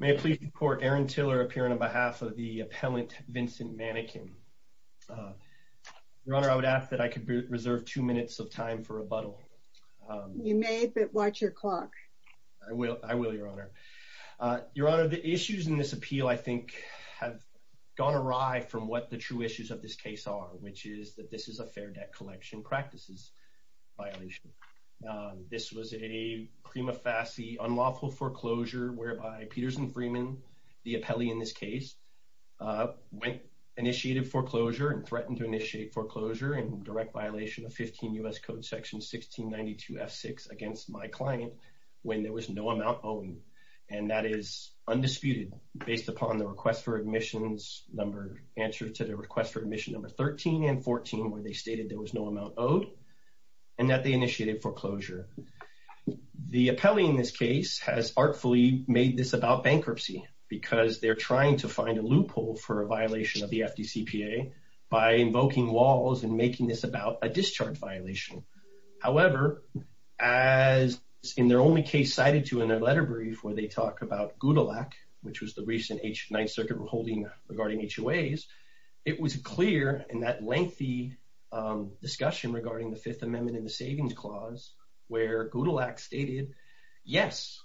May I please report Aaron Tiller appearing on behalf of the appellant Vincent Manikan. Your Honor, I would ask that I could reserve two minutes of time for rebuttal. You may, but watch your clock. I will, I will, Your Honor. Your Honor, the issues in this appeal I think have gone awry from what the true issues of this case are, which is that this is a fair debt collection practices violation. This was a prima facie unlawful foreclosure whereby Peters & Freedman, the appellee in this case, went, initiated foreclosure and threatened to initiate foreclosure in direct violation of 15 U.S. Code section 1692 F6 against my client when there was no amount owed. And that is undisputed based upon the request for admissions number, answer to the request for admission number 13 and 14 where they stated there was no amount owed and that they initiated foreclosure. The appellee in this case has artfully made this about bankruptcy because they're trying to find a loophole for a violation of the FDCPA by invoking walls and making this about a discharge violation. However, as in their only case cited to in their letter brief where they talk about GUDALAC, which was the recent H Ninth Circuit holding regarding HOAs, it was clear in that lengthy discussion regarding the Fifth Amendment and the Savings Clause where GUDALAC stated, yes,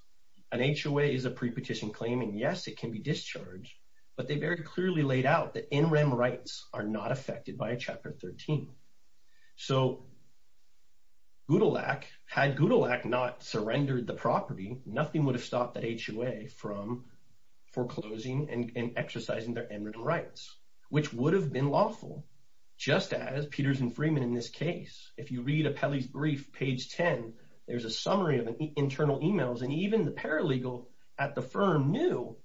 an HOA is a pre-petition claim and yes, it can be discharged, but they very clearly laid out that NREM rights are not affected by Chapter 13. So GUDALAC, had GUDALAC not surrendered the property, nothing would have stopped that HOA from foreclosing and exercising their NREM rights, which would have been lawful, just as Peters and Freeman in this case. If you read appellee's brief, page 10, there's a summary of internal emails and even the paralegal at the firm knew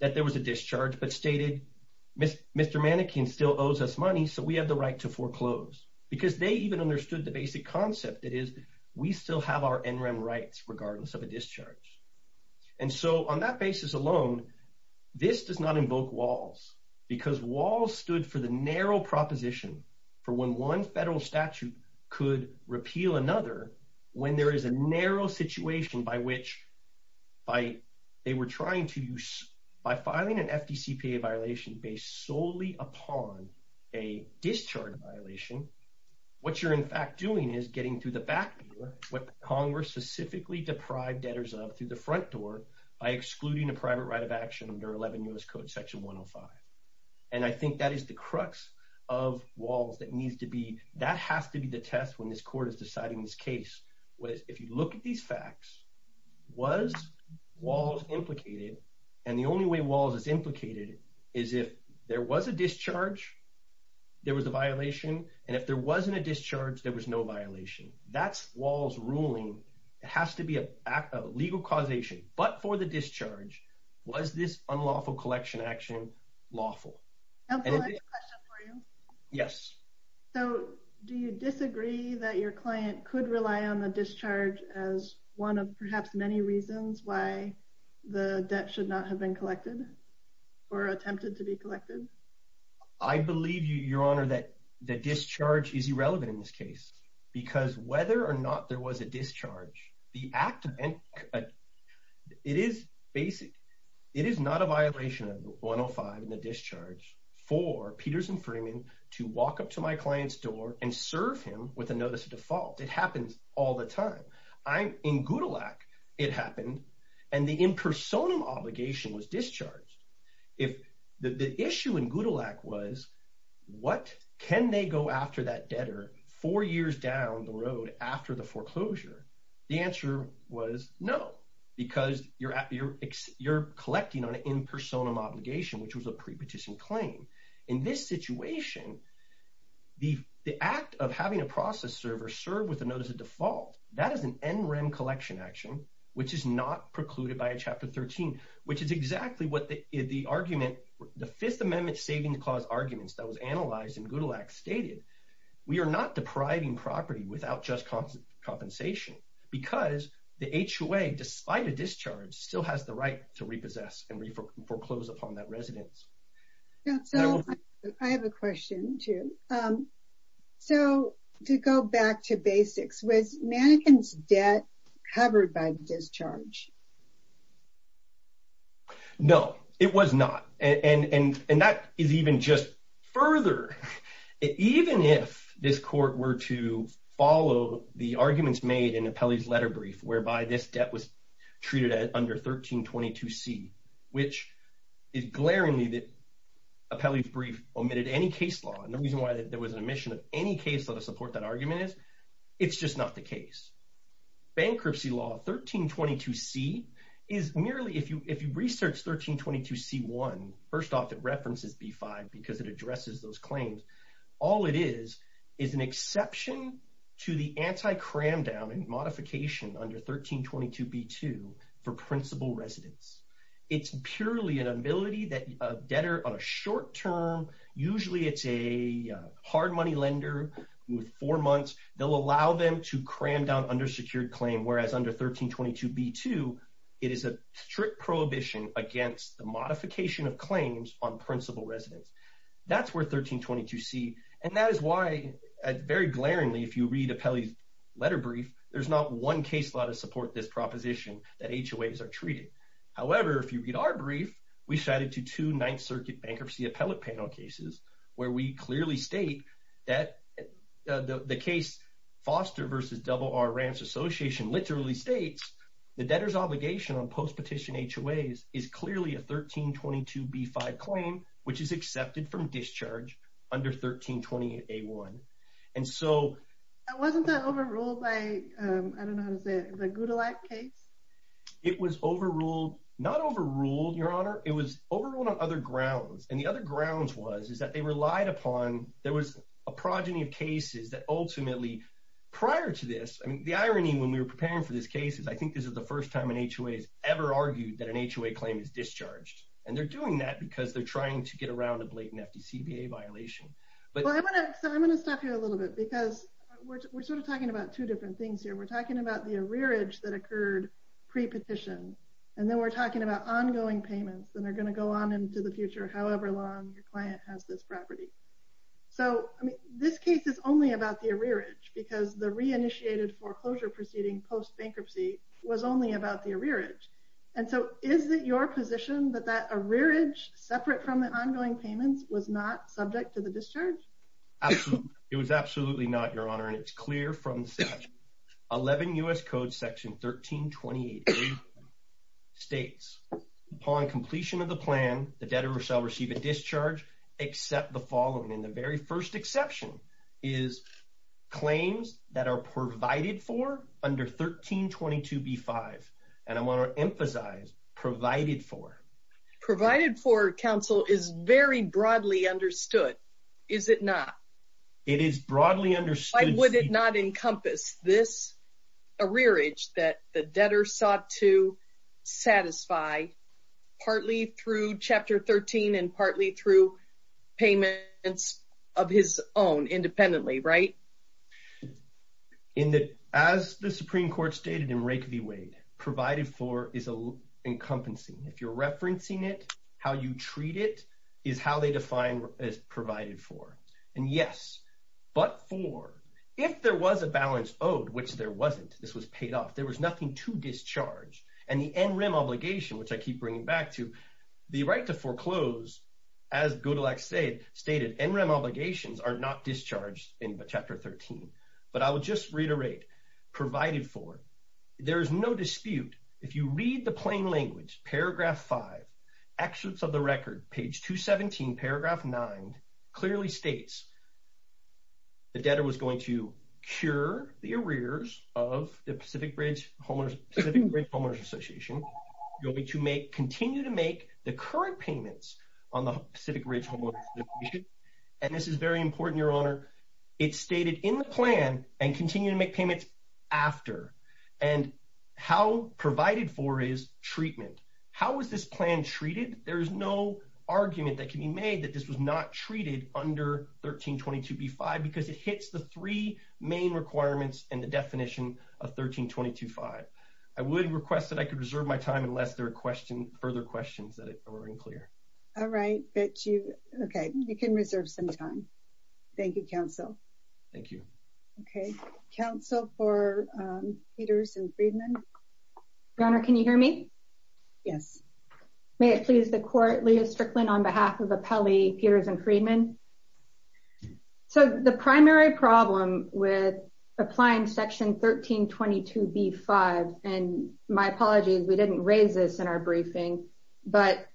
that there was a discharge, but stated, Mr. Manikin still owes us money, so we have the right to foreclose because they even understood the basic concept that is, we still have our NREM rights regardless of a discharge. And so on that basis alone, this does not invoke WALS because WALS stood for the narrow proposition for when one federal statute could repeal another, when there is a narrow situation by which, by they were trying to use, by filing an FDCPA violation based solely upon a discharge violation, what you're in fact doing is getting through the back door, what Congress specifically deprived debtors of through the front door by excluding a private right of action under 11 U.S. Code section 105. And I think that is the crux of WALS that needs to be, that has to be the test when this court is deciding this case. If you look at these facts, was WALS implicated? And the only way WALS is implicated is if there was a discharge, there was a violation, and if there wasn't a discharge, there was no violation. That's WALS ruling. It has to be a legal causation, but for the discharge, was this unlawful collection action lawful? I have a question for you. Yes. So do you disagree that your client could rely on the discharge as one of perhaps many reasons why the debt should not have been collected or attempted to be collected? I believe, Your Honor, that the because whether or not there was a discharge, the act of, it is basic, it is not a violation of 105 in the discharge for Peterson Freeman to walk up to my client's door and serve him with a notice of default. It happens all the time. In Gutelak, it happened, and the impersonal obligation was the road after the foreclosure. The answer was no, because you're collecting on an impersonal obligation, which was a pre-petition claim. In this situation, the act of having a process server serve with a notice of default, that is an NREM collection action, which is not precluded by a Chapter 13, which is exactly what the argument, the Fifth Amendment Savings Clause arguments that was analyzed in Gutelak stated. We are not depriving property without just compensation, because the HOA, despite a discharge, still has the right to repossess and foreclose upon that residence. I have a question too. So to go back to basics, was Manningham's debt covered by discharge? No, it was not, and that is even just further. Even if this court were to follow the arguments made in Apelli's letter brief, whereby this debt was treated at under 1322C, which is glaringly that Apelli's brief omitted any case law, and the reason why there was an omission of any case law to support that argument is, it's just not the case. Bankruptcy law 1322C is merely, if you research 1322C-1, first off, it references B-5, because it addresses those claims. All it is, is an exception to the anti-cram down and modification under 1322B-2 for principal residence. It's purely an ability that a debtor on a short term, usually it's a hard money lender with four months, they'll allow them to cram down under secured claim, whereas under 1322B-2, it is a strict prohibition against the modification of claims on principal residence. That's where 1322C, and that is why, very glaringly, if you read Apelli's letter brief, there's not one case law to support this proposition that HOAs are treated. However, if you read our brief, we shattered to two Ninth Circuit bankruptcy appellate panel cases, where we clearly state that the case Foster v. Double R Ranch Association literally states, the debtor's obligation on post-petition HOAs is clearly a 1322B-5 claim, which is accepted from discharge under 1320A-1. And so- Wasn't that overruled by, I don't know how to say it, the Gudelac case? It was overruled, not overruled, Your Honor, it was overruled on other grounds. And the other grounds was, is that they relied upon, there was a progeny of cases that ultimately, prior to this, I mean, the irony when we were preparing for this case is, I think this is the first time an HOA has ever argued that an HOA claim is discharged. And they're doing that because they're trying to get around a blatant FDCBA violation. But- Well, I'm going to stop here a little bit, because we're sort of talking about two different things here. We're talking about the arrearage that occurred pre-petition, and then we're talking about ongoing payments, and they're going to go on into the future, however long your client has this property. So, I mean, this case is only about the arrearage, because the re-initiated foreclosure proceeding post-bankruptcy was only about the arrearage. And so, is it your position that that arrearage, separate from the ongoing payments, was not subject to the discharge? Absolutely. It was absolutely not, Your Honor, and it's clear from the statute. 11 U.S. Code Section 1328A states, upon completion of the plan, the debtor shall receive a discharge except the following. And the very first exception is claims that are provided for under 1322B5. And I want to emphasize provided for. Provided for, counsel, is very broadly understood, is it not? It is broadly understood- arrearage that the debtor sought to satisfy, partly through Chapter 13 and partly through payments of his own, independently, right? In that, as the Supreme Court stated in Rake v. Wade, provided for is encompassing. If you're referencing it, how you treat it is how they define as provided for. And yes, but for. If there was a balance owed, which there wasn't, this was paid off, there was nothing to discharge. And the NREM obligation, which I keep bringing back to, the right to foreclose, as Godelak stated, NREM obligations are not discharged in Chapter 13. But I will just reiterate, provided for, there is no dispute. If you read the plain language, Paragraph 5, Excerpts of the Record, Page 217, Paragraph 9, clearly states, the debtor was going to cure the arrears of the Pacific Ridge Homeowners Association, going to continue to make the current payments on the Pacific Ridge Homeowners Association. And this is very important, Your Honor. It's stated in the plan and continue to make payments after. And how provided for is treatment. How was this plan treated? There is no under 1322B5 because it hits the three main requirements and the definition of 13225. I would request that I could reserve my time unless there are questions, further questions that are unclear. All right, but you, okay, you can reserve some time. Thank you, counsel. Thank you. Okay. Counsel for Peters and Friedman. Your Honor, can you hear me? Yes. May it please the Court, Leah Strickland on behalf of Appellee Peters and Friedman. So the primary problem with applying Section 1322B5, and my apologies, we didn't raise this in our briefing, but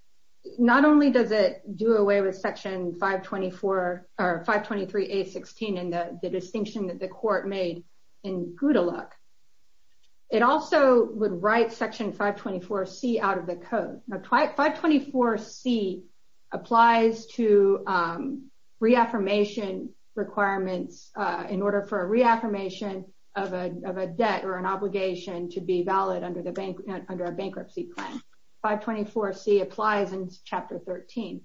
not only does it do away with Section 523A16 and the distinction that the 524C applies to reaffirmation requirements in order for a reaffirmation of a debt or an obligation to be valid under a bankruptcy plan. 524C applies in Chapter 13.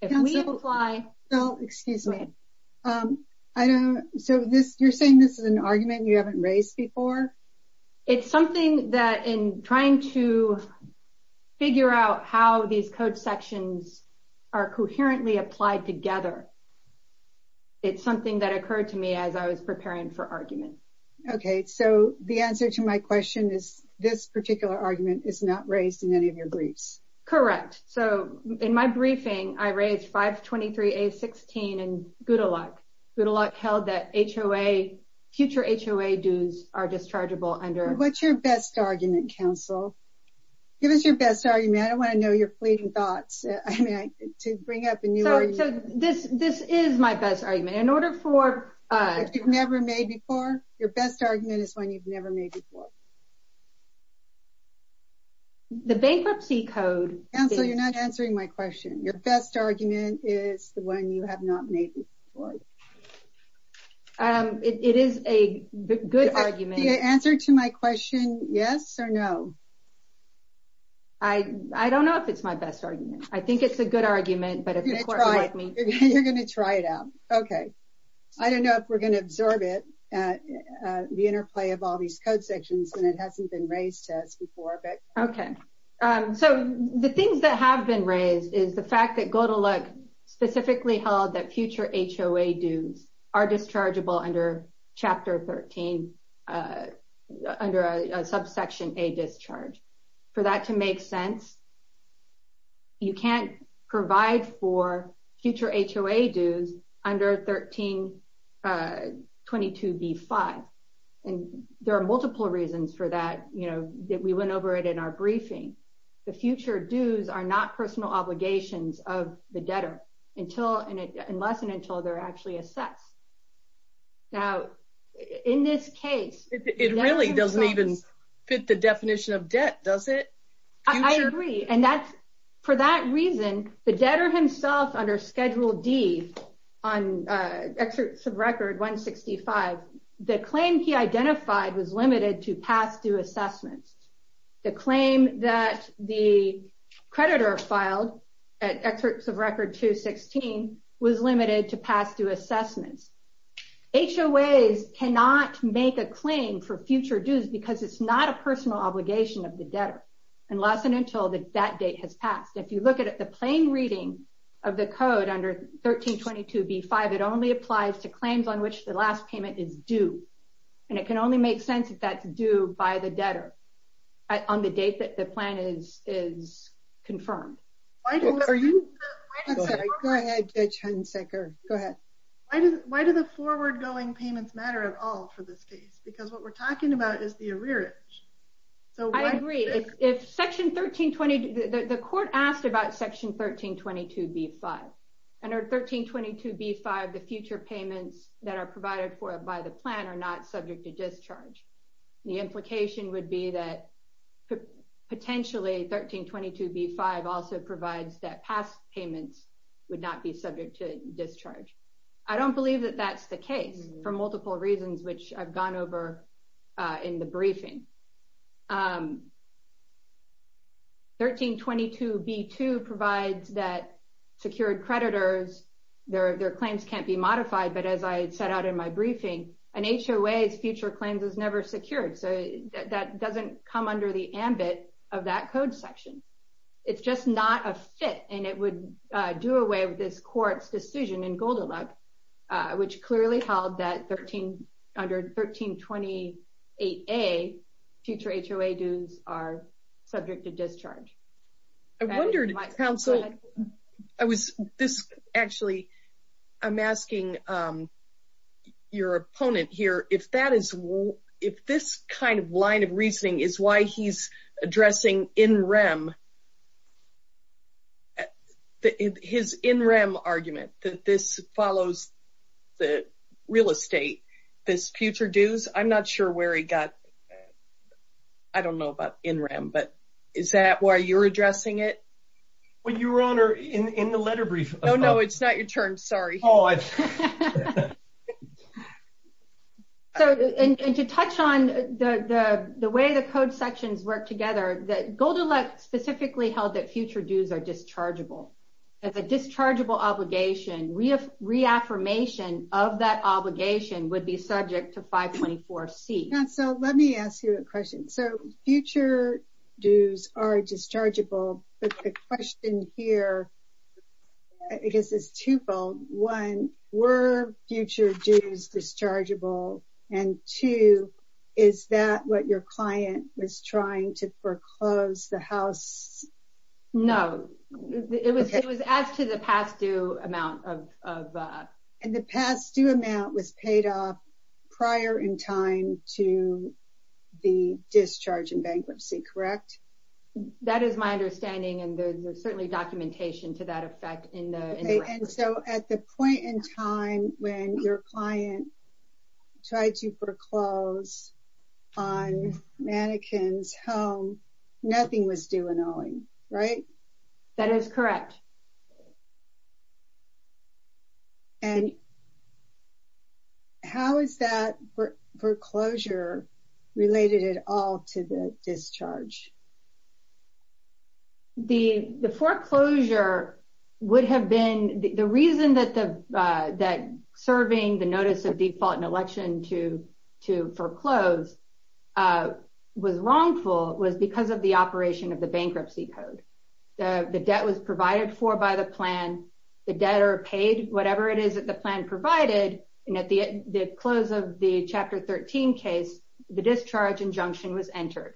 If we apply... No, excuse me. So you're saying this is an argument you haven't raised before? It's something that in trying to figure out how these code sections are coherently applied together, it's something that occurred to me as I was preparing for argument. Okay. So the answer to my question is this particular argument is not raised in any of your briefs? Correct. So in my briefing, I raised 523A16 and good luck. Good luck held that future HOA dues are dischargeable under... What's your best argument, counsel? Give us your best argument. I don't want to know your fleeting thoughts. I mean, to bring up a new argument. So this is my best argument. In order for... If you've never made before, your best argument is one you've never made before. The bankruptcy code... Counsel, you're not answering my question. Your best argument is the one you have not made before. It is a good argument. The answer to my question, yes or no? I don't know if it's my best argument. I think it's a good argument, but... You're going to try it out. Okay. I don't know if we're going to absorb it, the interplay of all these code sections when it hasn't been raised to us before. Okay. So the things that have been raised is the fact that good luck specifically held that future HOA dues are dischargeable under chapter 13, under a subsection A discharge. For that to make sense, you can't provide for future HOA dues under 1322B5. And there are multiple reasons for that. We went over it in our briefing. The future dues are not personal obligations of the debtor unless and until they're actually assessed. Now, in this case... It really doesn't even fit the definition of debt, does it? I agree. And for that reason, the debtor himself under Schedule D, on excerpts of record 165, the claim he identified was limited to pass-through assessments. The claim that the creditor filed at excerpts of record 216 was limited to pass-through assessments. HOAs cannot make a claim for future dues because it's not a personal obligation of the debtor unless and until that date has passed. If you look at the plain reading of the code under 1322B5, it only applies to claims on which the last payment is due. And it can only make sense if that's due by the debtor on the date that the plan is confirmed. Go ahead, Judge Hunsaker. Go ahead. Why do the forward-going payments matter at all for this case? Because what we're talking about is the arrearage. I agree. The court asked about section 1322B5. Under 1322B5, the future payments that are provided for by the plan are not subject to discharge. The implication would be that potentially 1322B5 also provides that past payments would not be subject to discharge. I don't believe that that's the case for multiple reasons, which I've gone over in the briefing. 1322B2 provides that secured creditors, their claims can't be modified. But as I set out in my briefing, an HOA's future claims is never secured. So that doesn't come under the ambit of that code section. It's just not a fit and it would do away with this court's decision in 1322A, future HOA dues are subject to discharge. I wondered, counsel. Actually, I'm asking your opponent here, if this kind of line of reasoning is why he's addressing in rem, his in rem argument that this follows the real estate, this future dues, I'm not sure where he got, I don't know about in rem, but is that why you're addressing it? Well, your honor, in the letter brief. Oh, no, it's not your turn. Sorry. So, and to touch on the way the code sections work together, that Goldilocks specifically held that future dues are dischargeable. As a dischargeable obligation, reaffirmation of that would be subject to 524C. Counsel, let me ask you a question. So future dues are dischargeable, but the question here, I guess it's twofold. One, were future dues dischargeable? And two, is that what your client was trying to foreclose the house? No, it was as to the past due amount of... And the past due amount was paid off prior in time to the discharge and bankruptcy, correct? That is my understanding, and there's certainly documentation to that effect in the record. And so at the point in time when your client tried to foreclose on Mannequin's home, nothing was due and owing, right? That is correct. And how is that foreclosure related at all to the discharge? The foreclosure would have been... The reason that serving the notice of default in election to foreclose was wrongful was because of the operation of the bankruptcy code. The debt was provided for by the plan, the debtor paid whatever it is that the plan provided, and at the close of the Chapter 13 case, the discharge injunction was entered.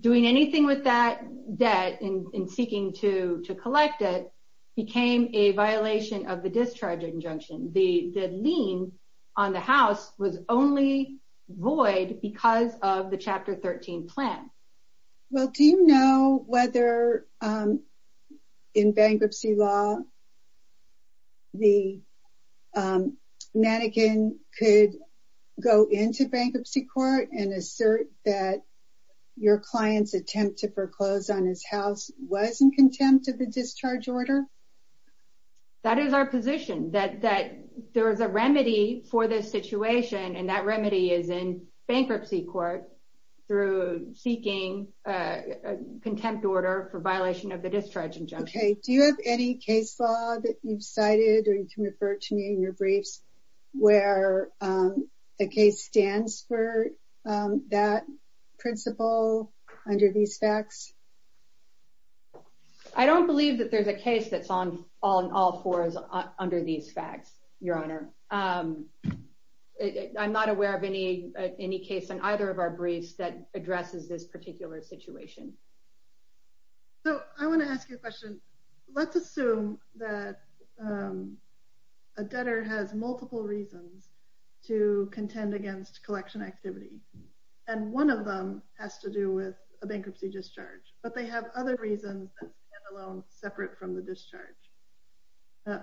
Doing anything with that debt in seeking to collect it became a violation of the discharge injunction. The lien on the house was only void because of the Chapter 13 plan. Well, do you know whether in bankruptcy law, the Mannequin could go into bankruptcy court and your client's attempt to foreclose on his house was in contempt of the discharge order? That is our position, that there is a remedy for this situation, and that remedy is in bankruptcy court through seeking a contempt order for violation of the discharge injunction. Okay. Do you have any case law that you've cited or you can refer to me in your briefs where the case stands for that principle under these facts? I don't believe that there's a case that's on all fours under these facts, Your Honor. I'm not aware of any case on either of our briefs that addresses this particular situation. So, I want to ask you a question. Let's assume that a debtor has multiple reasons to contend against collection activity, and one of them has to do with a bankruptcy discharge, but they have other reasons that stand alone separate from the discharge,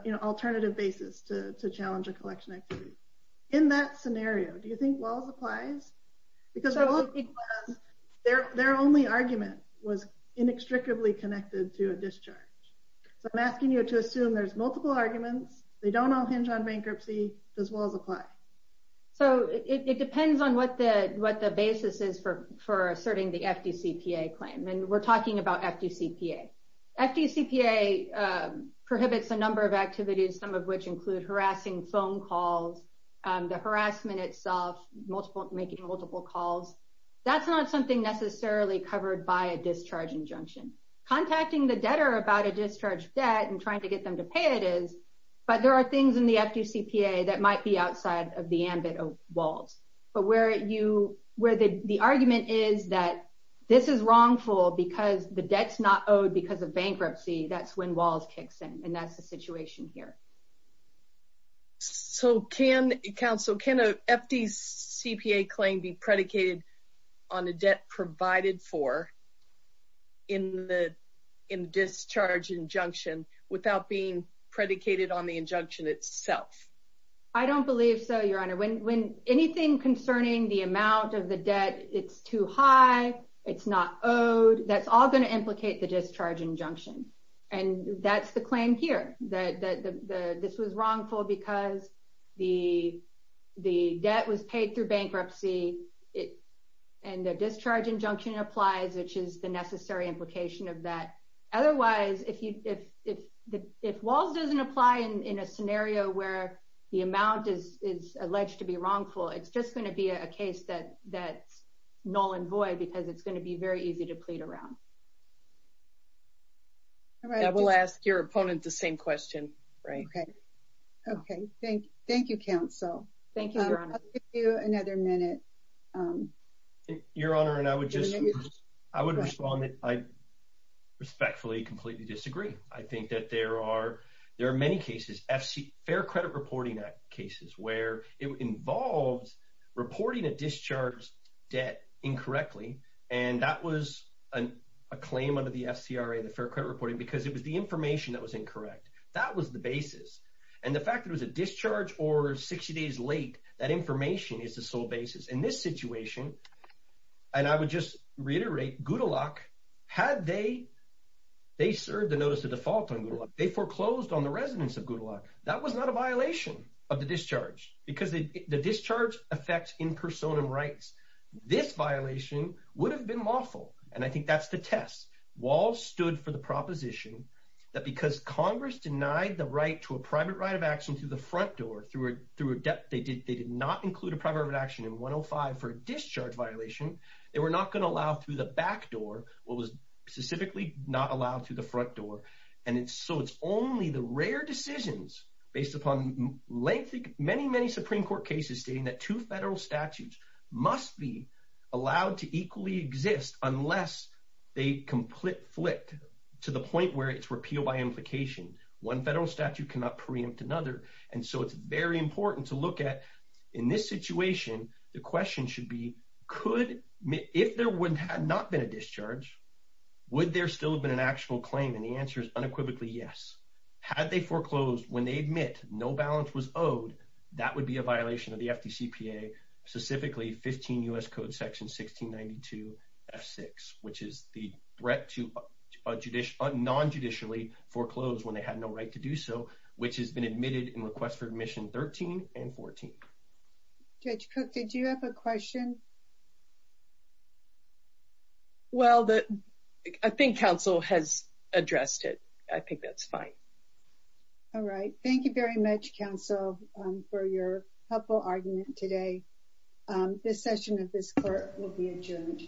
you know, alternative basis to challenge a collection activity. In that scenario, do you think WALLS applies? Because their only argument was inextricably connected to a discharge. So, I'm asking you to assume there's multiple arguments, they don't all hinge on bankruptcy, does WALLS apply? So, it depends on what the basis is for asserting the FDCPA claim, and we're talking about FDCPA. FDCPA prohibits a number of activities, some of which include harassing phone calls, the harassment itself, making multiple calls. That's not something necessarily covered by a discharge injunction. Contacting the debtor about a discharge debt and trying to get them to pay it is, but there are things in the FDCPA that might be outside of the ambit of WALLS. But where the argument is that this is wrongful because the debt's not owed because of bankruptcy, that's when WALLS kicks in, and that's the situation here. So, can, counsel, can a FDCPA claim be predicated on a debt provided for in the discharge injunction without being predicated on the injunction itself? I don't believe so, Your Honor. When anything concerning the amount of the debt, it's too high, it's not owed, that's all going to implicate the discharge injunction. And that's the claim here, that this was wrongful because the debt was paid through bankruptcy, and the discharge injunction applies, which is the necessary implication of that. Otherwise, if WALLS doesn't apply in a scenario where the amount is alleged to be wrongful, it's just going to be a case that's null and void because it's going to be very easy to plead around. I will ask your opponent the same question. Okay. Thank you, counsel. I'll give you another minute. Your Honor, and I would just respond that I respectfully completely disagree. I think that there are many cases, fair credit reporting cases, where it involves reporting a discharged debt incorrectly. And that was a claim under the FCRA, the fair credit reporting, because it was the information that was incorrect. That was the basis. And the fact that it was a discharge or 60 days late, that information is the sole basis. In this situation, and I would just reiterate, Goodalock, had they served the notice of default on Goodalock, they foreclosed on the residence of Goodalock. That was not a violation of the discharge effect in persona rights. This violation would have been lawful. And I think that's the test. WALLS stood for the proposition that because Congress denied the right to a private right of action through the front door, through a debt, they did not include a private right of action in 105 for a discharge violation. They were not going to allow through the back door, what was specifically not allowed through the front door. And so it's only the rare decisions based upon lengthy, many, many Supreme Court cases stating that two federal statutes must be allowed to equally exist unless they complete flip to the point where it's repealed by implication. One federal statute cannot preempt another. And so it's very important to look at in this situation, the question should be, could, if there had not been a discharge, would there still have been an actual claim? And the answer is unequivocally yes. Had they foreclosed when they admit no balance was owed, that would be a violation of the FDCPA, specifically 15 U.S. Code section 1692 F6, which is the threat to a non-judicially foreclosed when they had no right to do so, which has been admitted in requests for admission 13 and 14. Judge Cook, did you have a question? Well, I think counsel has addressed it. I think that's fine. All right. Thank you very much, counsel, for your helpful argument today. This session of this court will be adjourned.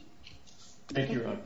Thank you, Your Honor.